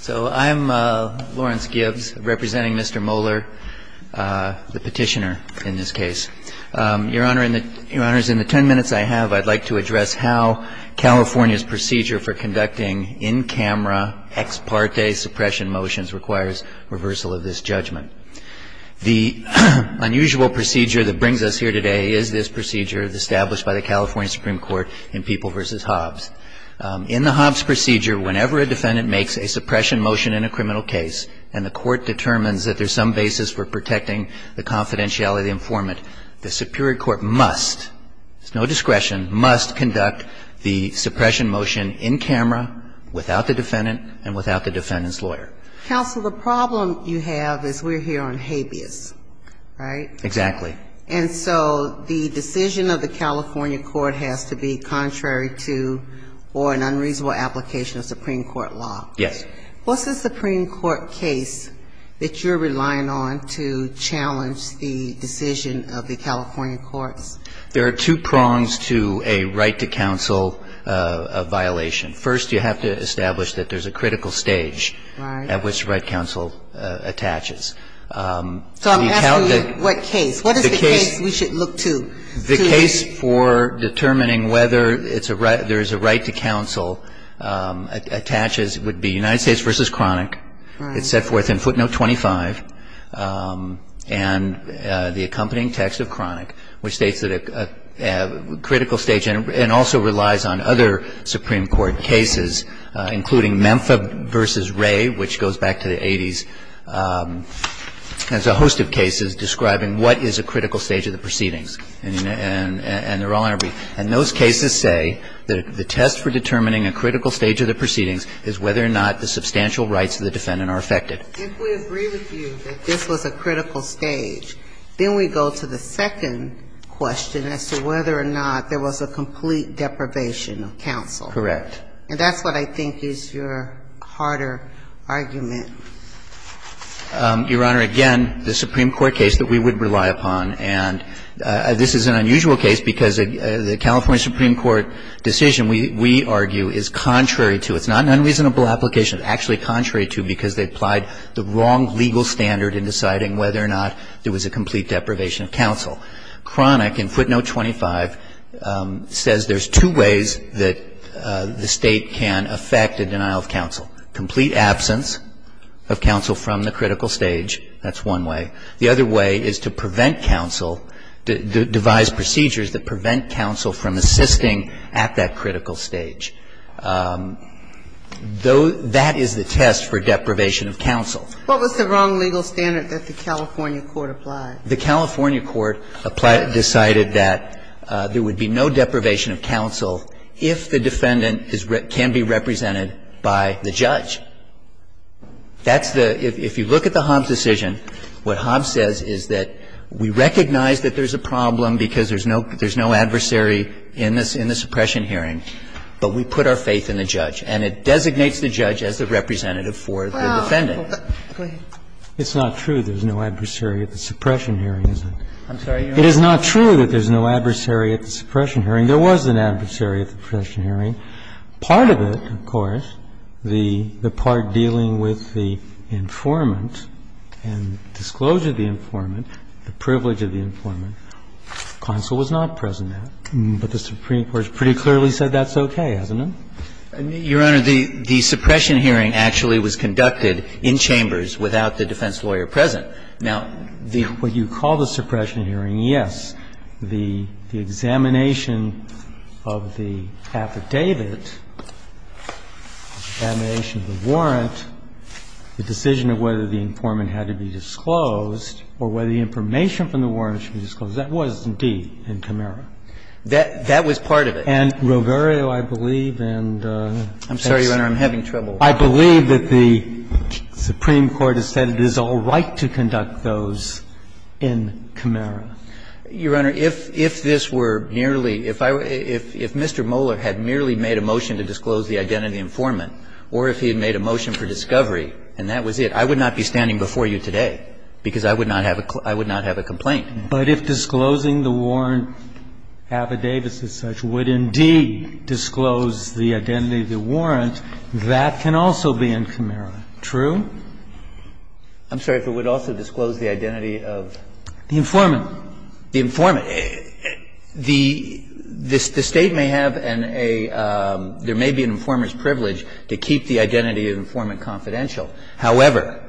So I'm Lawrence Gibbs representing Mr. Moeller, the petitioner in this case. Your Honor, in the ten minutes I have, I'd like to address how California's procedure for conducting in-camera ex parte suppression motions requires reversal of this judgment. The unusual procedure that brings us here today is this procedure established by the California Supreme Court in People v. Hobbs. In the Hobbs procedure, whenever a defendant makes a suppression motion in a criminal case and the court determines that there's some basis for protecting the confidentiality informant, the Superior Court must, there's no discretion, must conduct the suppression motion in camera without the defendant and without the defendant's lawyer. Counsel, the problem you have is we're here on habeas, right? Exactly. And so the decision of the California court has to be contrary to or an unreasonable application of Supreme Court law. Yes. What's the Supreme Court case that you're relying on to challenge the decision of the California courts? There are two prongs to a right to counsel violation. First, you have to establish that there's a critical stage at which right counsel attaches. So I'm asking you what case. What is the case we should look to? The case for determining whether it's a right, there's a right to counsel attaches would be United States v. Chronic. All right. It's set forth in footnote 25 and the accompanying text of Chronic, which states that a critical stage and also relies on other Supreme Court cases, including Memphis v. Ray, which goes back to the 80s, has a host of cases describing what is a critical stage of the proceedings. And they're all in our brief. And those cases say that the test for determining a critical stage of the proceedings is whether or not the substantial rights of the defendant are affected. If we agree with you that this was a critical stage, then we go to the second question as to whether or not there was a complete deprivation of counsel. Correct. And that's what I think is your harder argument. Your Honor, again, the Supreme Court case that we would rely upon, and this is an unusual case because the California Supreme Court decision, we argue, is contrary to. It's not an unreasonable application. It's actually contrary to because they applied the wrong legal standard in deciding Chronic in footnote 25 says there's two ways that the State can affect a denial of counsel. Complete absence of counsel from the critical stage, that's one way. The other way is to prevent counsel, devise procedures that prevent counsel from assisting at that critical stage. That is the test for deprivation of counsel. What was the wrong legal standard that the California court applied? The California court decided that there would be no deprivation of counsel if the defendant can be represented by the judge. That's the – if you look at the Hobbs decision, what Hobbs says is that we recognize that there's a problem because there's no adversary in the suppression hearing, but we put our faith in the judge. And it designates the judge as the representative for the defendant. Go ahead. It's not true there's no adversary at the suppression hearing, is it? I'm sorry, Your Honor. It is not true that there's no adversary at the suppression hearing. There was an adversary at the suppression hearing. Part of it, of course, the part dealing with the informant and disclosure of the informant, the privilege of the informant, counsel was not present at. But the Supreme Court has pretty clearly said that's okay, hasn't it? Your Honor, the suppression hearing actually was conducted in chambers without the defense lawyer present. Now, the – What you call the suppression hearing, yes. The examination of the affidavit, examination of the warrant, the decision of whether the informant had to be disclosed or whether the information from the warrant should be disclosed, that was indeed in Camaro. That was part of it. And Roverio, I believe, and that's – I'm sorry, Your Honor. I'm having trouble. I believe that the Supreme Court has said it is all right to conduct those in Camaro. Your Honor, if this were merely – if I – if Mr. Moller had merely made a motion to disclose the identity of the informant or if he had made a motion for discovery and that was it, I would not be standing before you today because I would not have a complaint. But if disclosing the warrant affidavits as such would indeed disclose the identity of the warrant, that can also be in Camaro, true? I'm sorry. If it would also disclose the identity of the informant. The informant. The State may have an a – there may be an informant's privilege to keep the identity of the informant confidential. However,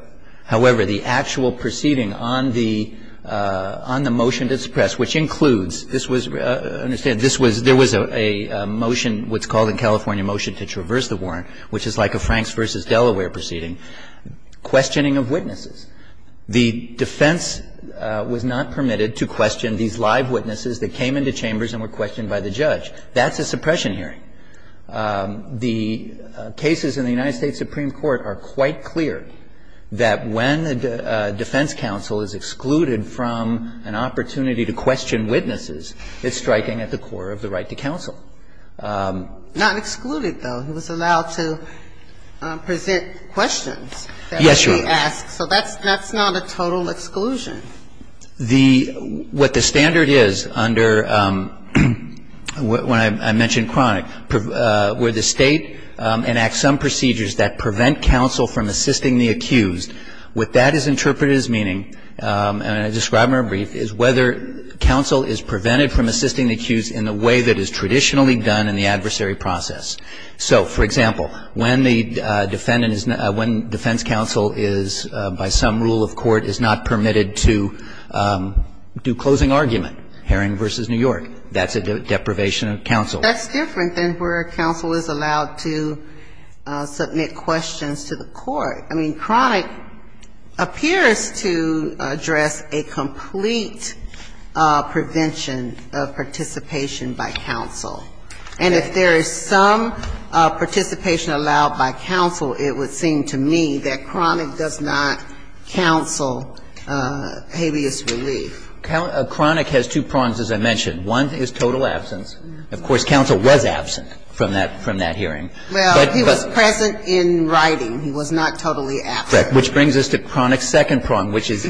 however, the actual proceeding on the – on the motion to suppress, which includes – this was – understand, this was – there was a motion, what's called in California a motion to traverse the warrant, which is like a Franks v. Delaware proceeding, questioning of witnesses. The defense was not permitted to question these live witnesses that came into chambers and were questioned by the judge. That's a suppression hearing. The cases in the United States Supreme Court are quite clear that when a defense counsel is excluded from an opportunity to question witnesses, it's striking at the core of the right to counsel. Not excluded, though. He was allowed to present questions. Yes, Your Honor. So that's not a total exclusion. The – what the standard is under – when I mention chronic, where the State enacts some procedures that prevent counsel from assisting the accused, what that is interpreted as meaning, and I describe in a brief, is whether counsel is prevented from assisting the accused in the way that is traditionally done in the adversary process. So, for example, when the defendant is – when defense counsel is, by some rule of court, is not permitted to do closing argument, Herring v. New York, that's a deprivation of counsel. That's different than where counsel is allowed to submit questions to the court. I mean, chronic appears to address a complete prevention of participation by counsel. And if there is some participation allowed by counsel, it would seem to me that that's a total habeas relief. Chronic has two prongs, as I mentioned. One is total absence. Of course, counsel was absent from that hearing. Well, he was present in writing. He was not totally absent. Which brings us to chronic's second prong, which is,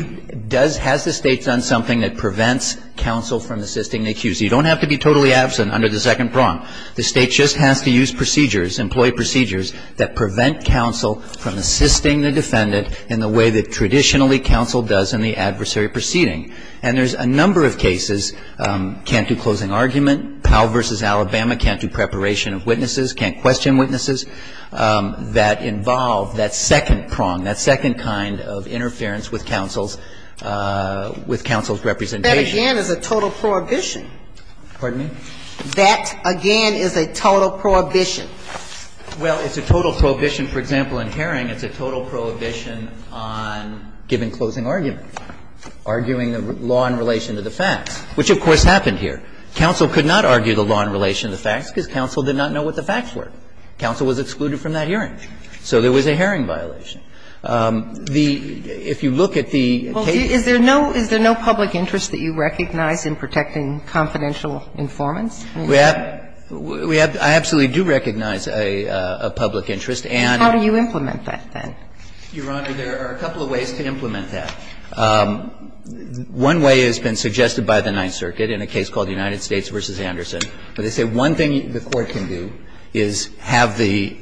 does – has the State done something that prevents counsel from assisting the accused? You don't have to be totally absent under the second prong. The State just has to use procedures, employee procedures, that prevent counsel from assisting the defendant in the way that traditionally counsel does in the adversary proceeding. And there's a number of cases, can't do closing argument, Powell v. Alabama, can't do preparation of witnesses, can't question witnesses, that involve that second prong, that second kind of interference with counsel's – with counsel's representation. That, again, is a total prohibition. Pardon me? That, again, is a total prohibition. Well, it's a total prohibition, for example, in Herring, it's a total prohibition on giving closing argument, arguing the law in relation to the facts, which of course happened here. Counsel could not argue the law in relation to the facts because counsel did not know what the facts were. Counsel was excluded from that hearing. So there was a Herring violation. The – if you look at the case – Well, is there no – is there no public interest that you recognize in protecting confidential informants? We have – we have – I absolutely do recognize a public interest, and – How do you implement that, then? Your Honor, there are a couple of ways to implement that. One way has been suggested by the Ninth Circuit in a case called United States v. Anderson, where they say one thing the Court can do is have the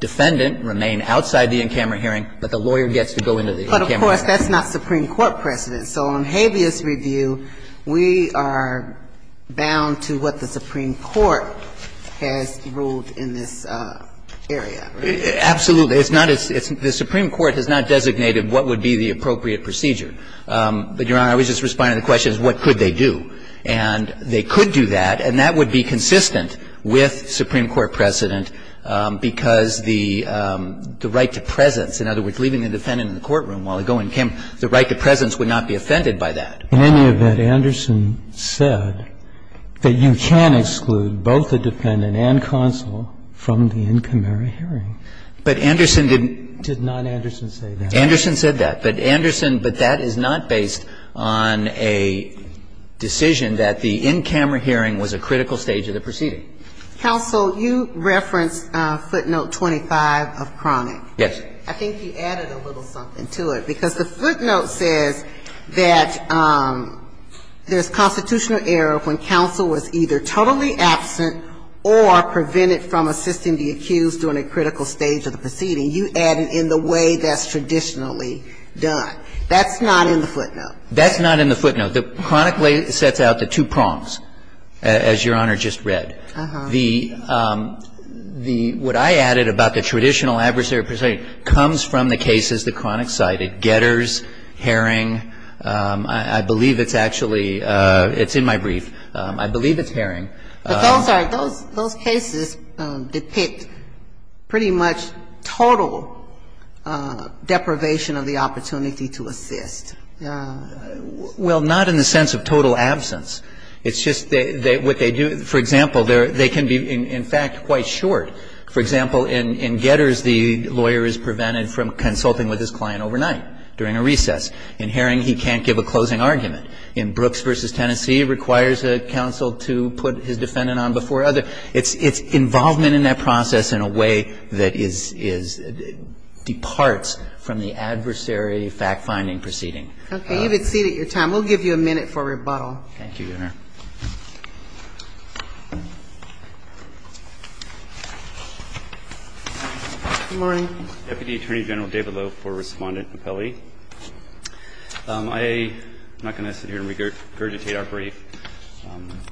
defendant remain outside the in-camera hearing, but the lawyer gets to go into the in-camera hearing. But, of course, that's not Supreme Court precedent. So on habeas review, we are bound to what the Supreme Court has ruled in this area. Absolutely. It's not – it's – the Supreme Court has not designated what would be the appropriate procedure. But, Your Honor, I was just responding to the question of what could they do. And they could do that, and that would be consistent with Supreme Court precedent because the right to presence, in other words, leaving the defendant in the courtroom while they go in-camera, the right to presence would not be offended by that. In any event, Anderson said that you can exclude both the defendant and counsel from the in-camera hearing. But Anderson didn't – Did not Anderson say that? Anderson said that. But Anderson – but that is not based on a decision that the in-camera hearing was a critical stage of the proceeding. Counsel, you referenced footnote 25 of Cronick. Yes. I think you added a little something to it, because the footnote says that there's constitutional error when counsel was either totally absent or prevented from assisting the accused during a critical stage of the proceeding. You add it in the way that's traditionally done. That's not in the footnote. That's not in the footnote. The Cronick lay – sets out the two prongs, as Your Honor just read. Uh-huh. The – what I added about the traditional adversary proceeding comes from the cases that Cronick cited, Getters, Herring. I believe it's actually – it's in my brief. I believe it's Herring. But those are – those cases depict pretty much total deprivation of the opportunity to assist. Well, not in the sense of total absence. It's just that what they do – for example, they can be, in fact, quite short. For example, in Getters, the lawyer is prevented from consulting with his client overnight during a recess. In Herring, he can't give a closing argument. In Brooks v. Tennessee, it requires a counsel to put his defendant on before other – it's involvement in that process in a way that is – departs from the adversary fact-finding proceeding. Okay. You've exceeded your time. We'll give you a minute for rebuttal. Thank you, Your Honor. Good morning. Deputy Attorney General David Loew for Respondent and Appellee. I'm not going to sit here and regurgitate our brief.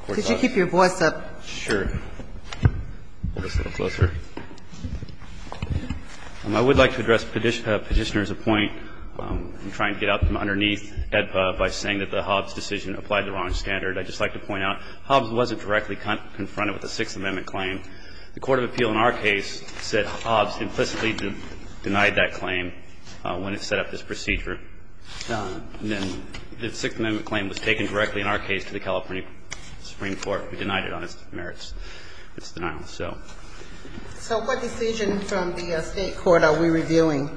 Could you keep your voice up? Sure. Hold this a little closer. I would like to address Petitioner's point in trying to get out from underneath by saying that the Hobbs decision applied the wrong standard. I'd just like to point out, Hobbs wasn't directly confronted with a Sixth Amendment claim. The court of appeal in our case said Hobbs implicitly denied that claim when it set up this procedure. The Sixth Amendment claim was taken directly, in our case, to the California Supreme Court. We denied it on its merits. So what decision from the state court are we reviewing?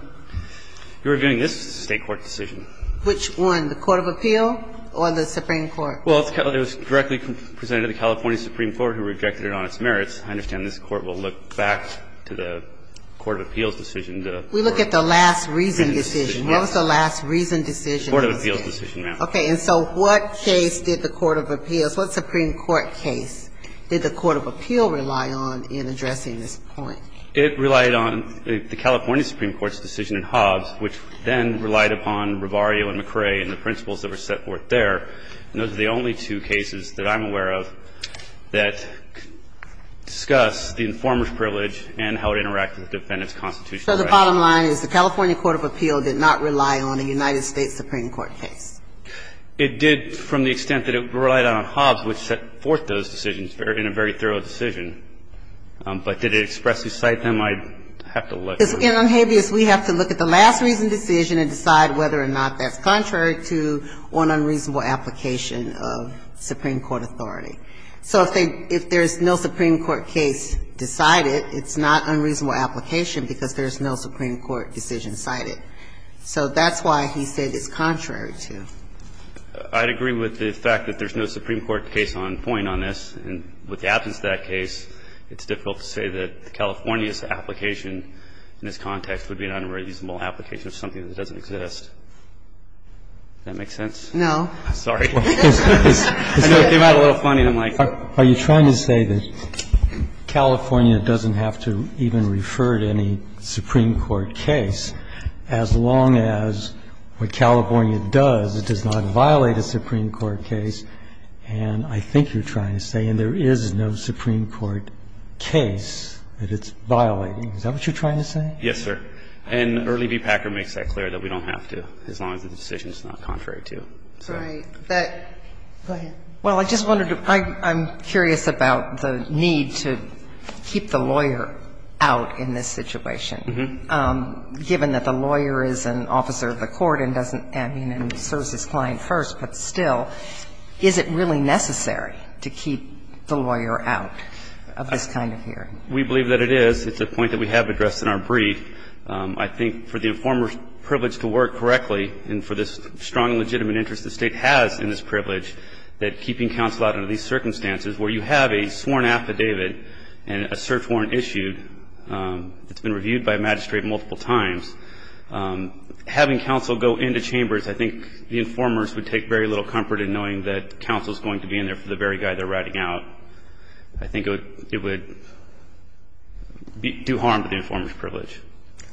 We're reviewing this state court decision. Which one, the court of appeal or the Supreme Court? Well, it was directly presented to the California Supreme Court, who rejected it on its merits. I understand this Court will look back to the court of appeals decision. We look at the last reason decision. What was the last reason decision? Court of appeals decision, ma'am. Okay. And so what case did the court of appeals, what Supreme Court case did the court of appeal rely on in addressing this point? It relied on the California Supreme Court's decision in Hobbs, which then relied upon Rivario and McCrae and the principles that were set forth there, and those are the only two cases that I'm aware of that discuss the informer's privilege and how it interacted with the defendant's constitutional right. So the bottom line is the California court of appeal did not rely on a United States Supreme Court case. It did from the extent that it relied on Hobbs, which set forth those decisions in a very thorough decision. But did it expressly cite them? I'd have to look. In Unhabeas, we have to look at the last reason decision and decide whether or not that's contrary to one unreasonable application of Supreme Court authority. So if there's no Supreme Court case decided, it's not unreasonable application because there's no Supreme Court decision cited. So that's why he said it's contrary to. I'd agree with the fact that there's no Supreme Court case on point on this. And with the absence of that case, it's difficult to say that California's application in this context would be an unreasonable application of something that doesn't exist. Does that make sense? No. Sorry. I know it came out a little funny. I'm like. Are you trying to say that California doesn't have to even refer to any Supreme Court case as long as what California does, it does not violate a Supreme Court case? And I think you're trying to say, and there is no Supreme Court case that it's violating. Is that what you're trying to say? Yes, sir. And Early v. Packer makes that clear, that we don't have to as long as the decision is not contrary to. So. Go ahead. Well, I just wanted to ask, I'm curious about the need to keep the lawyer out in this situation, given that the lawyer is an officer of the court and doesn't, I mean, serves his client first, but still, is it really necessary to keep the lawyer out of this kind of hearing? We believe that it is. It's a point that we have addressed in our brief. I think for the informer's privilege to work correctly, and for this strong and legitimate interest the State has in this privilege, that keeping counsel out under these circumstances, where you have a sworn affidavit and a search warrant issued, it's been reviewed by a magistrate multiple times, having counsel go into chambers, I think the informers would take very little comfort in knowing that counsel is going to be in there for the very guy they're writing out. I think it would do harm to the informer's privilege.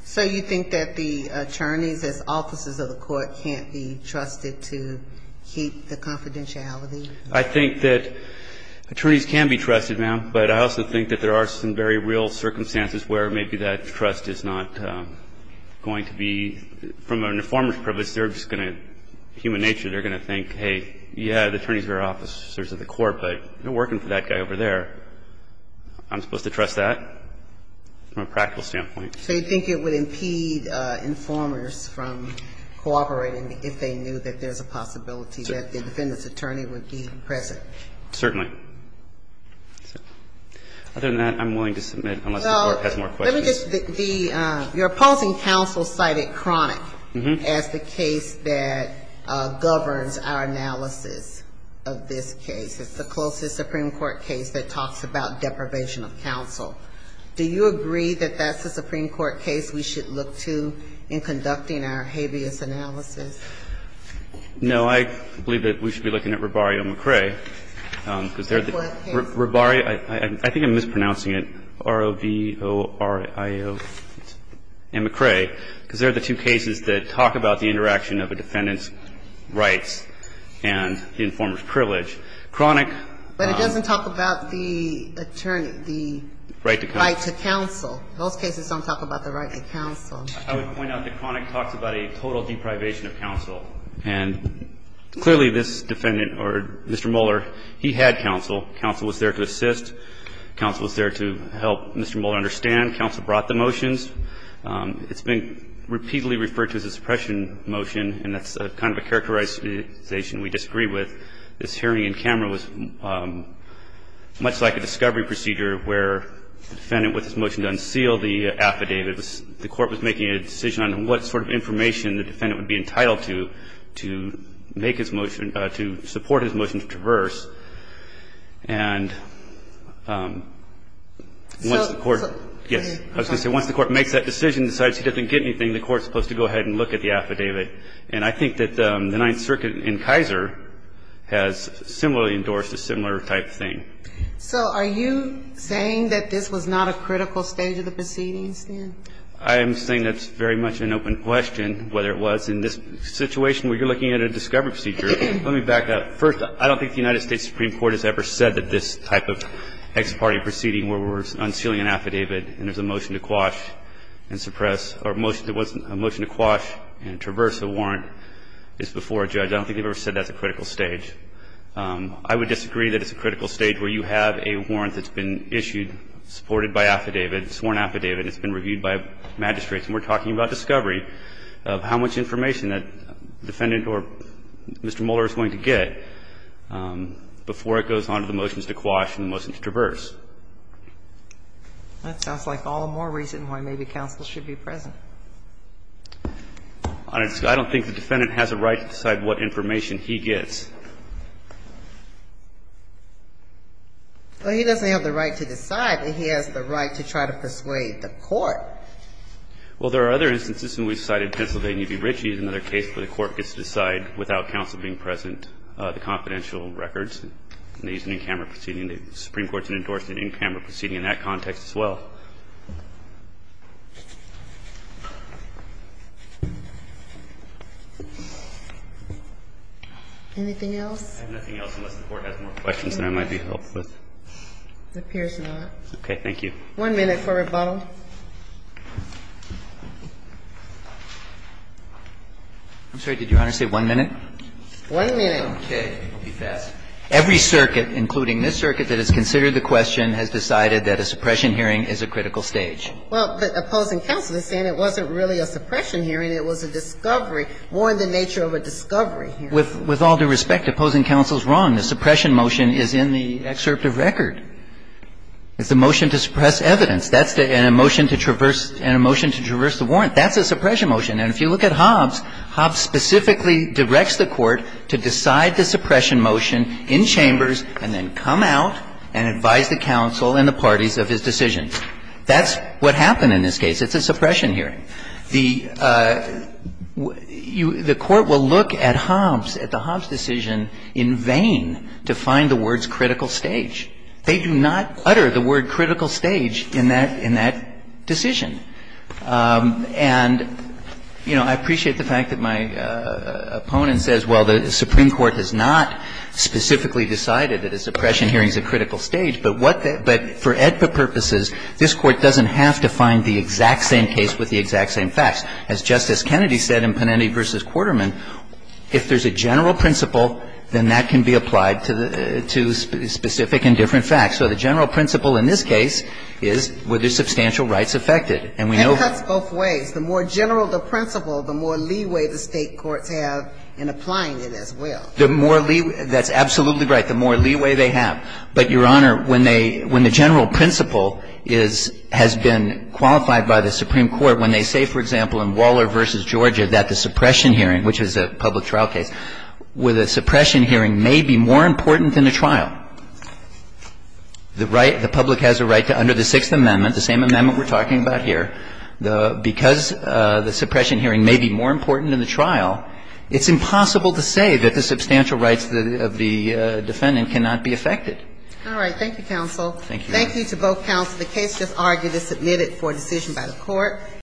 So you think that the attorneys, as officers of the court, can't be trusted to keep the confidentiality? I think that attorneys can be trusted, ma'am, but I also think that there are some very real circumstances where maybe that trust is not going to be, from an informer's privilege, they're just going to, human nature, they're going to think, hey, yeah, I'm one of the attorneys who are officers of the court, but I'm working for that guy over there. I'm supposed to trust that, from a practical standpoint. So you think it would impede informers from cooperating if they knew that there's a possibility that the defendant's attorney would be present? Certainly. Other than that, I'm willing to submit, unless the Court has more questions. Well, let me just, the, your opposing counsel cited Cronic as the case that governs our analysis of this case. It's the closest Supreme Court case that talks about deprivation of counsel. Do you agree that that's a Supreme Court case we should look to in conducting our habeas analysis? No. I believe that we should be looking at Rabario-McCray, because they're the two cases that we should be looking at, and the informer's privilege. Cronic... But it doesn't talk about the attorney, the... Right to counsel. ...right to counsel. Those cases don't talk about the right to counsel. I would point out that Cronic talks about a total deprivation of counsel, and clearly this defendant, or Mr. Mueller, he had counsel. Counsel was there to assist. Counsel was there to help Mr. Mueller understand. Counsel brought the motions. It's been repeatedly referred to as a suppression motion, and that's kind of a characterization we disagree with. This hearing in camera was much like a discovery procedure where the defendant with his motion to unseal the affidavit, the court was making a decision on what sort of information the defendant would be entitled to, to make his motion, to support his motion to traverse. And once the court... So... Yes. I was going to say once the court makes that decision and decides he doesn't get anything, the court is supposed to go ahead and look at the affidavit. And I think that the Ninth Circuit in Kaiser has similarly endorsed a similar type thing. So are you saying that this was not a critical stage of the proceedings, then? I am saying that's very much an open question, whether it was in this situation where you're looking at a discovery procedure. Let me back up. First, I don't think the United States Supreme Court has ever said that this type of ex parte proceeding where we're unsealing an affidavit and there's a motion to quash and suppress or a motion to quash and traverse the warrant is before a judge. I don't think they've ever said that's a critical stage. I would disagree that it's a critical stage where you have a warrant that's been issued, supported by affidavit, sworn affidavit, it's been reviewed by magistrates, and we're talking about discovery of how much information that defendant or Mr. Mueller is going to get before it goes on to the motions to quash and the motions to traverse. That sounds like all the more reason why maybe counsel should be present. I don't think the defendant has a right to decide what information he gets. Well, he doesn't have the right to decide, but he has the right to try to persuade the court. Well, there are other instances when we've cited Pennsylvania v. Ritchie as another case where the court gets to decide without counsel being present the confidential records, and they use an in-camera proceeding. The Supreme Court has endorsed an in-camera proceeding in that context as well. Anything else? I have nothing else unless the Court has more questions than I might be helpful with. It appears not. Okay. Thank you. One minute for rebuttal. I'm sorry. Did Your Honor say one minute? One minute. Okay. It will be fast. Every circuit, including this circuit that has considered the question, has decided that a suppression hearing is a critical stage. Well, the opposing counsel is saying it wasn't really a suppression hearing, it was a discovery. More in the nature of a discovery hearing. With all due respect, opposing counsel is wrong. The suppression motion is in the excerpt of record. It's a motion to suppress evidence. That's a motion to traverse the warrant. That's a suppression motion. And if you look at Hobbs, Hobbs specifically directs the Court to decide the suppression motion in chambers and then come out and advise the counsel and the parties of his decision. That's what happened in this case. It's a suppression hearing. The Court will look at Hobbs, at the Hobbs decision in vain to find the words critical stage. They do not utter the word critical stage in that decision. And, you know, I appreciate the fact that my opponent says, well, the Supreme Court has not specifically decided that a suppression hearing is a critical stage, but what the – but for AEDPA purposes, this Court doesn't have to find the exact same case with the exact same facts. As Justice Kennedy said in Panetti v. Quarterman, if there's a general principle, then that can be applied to specific and different facts. So the general principle in this case is were there substantial rights affected? And we know that's both ways. The more general the principle, the more leeway the State courts have in applying it as well. The more leeway. That's absolutely right. The more leeway they have. But, Your Honor, when they – when the general principle is – has been qualified by the Supreme Court, when they say, for example, in Waller v. Georgia that the suppression hearing, which is a public trial case, where the suppression hearing may be more important than the trial. The right – the public has a right to, under the Sixth Amendment, the same amendment we're talking about here, the – because the suppression hearing may be more important than the trial, it's impossible to say that the substantial rights of the defendant cannot be affected. All right. Thank you, counsel. Thank you. Thank you to both counsel. The case just argued is submitted for decision by the Court.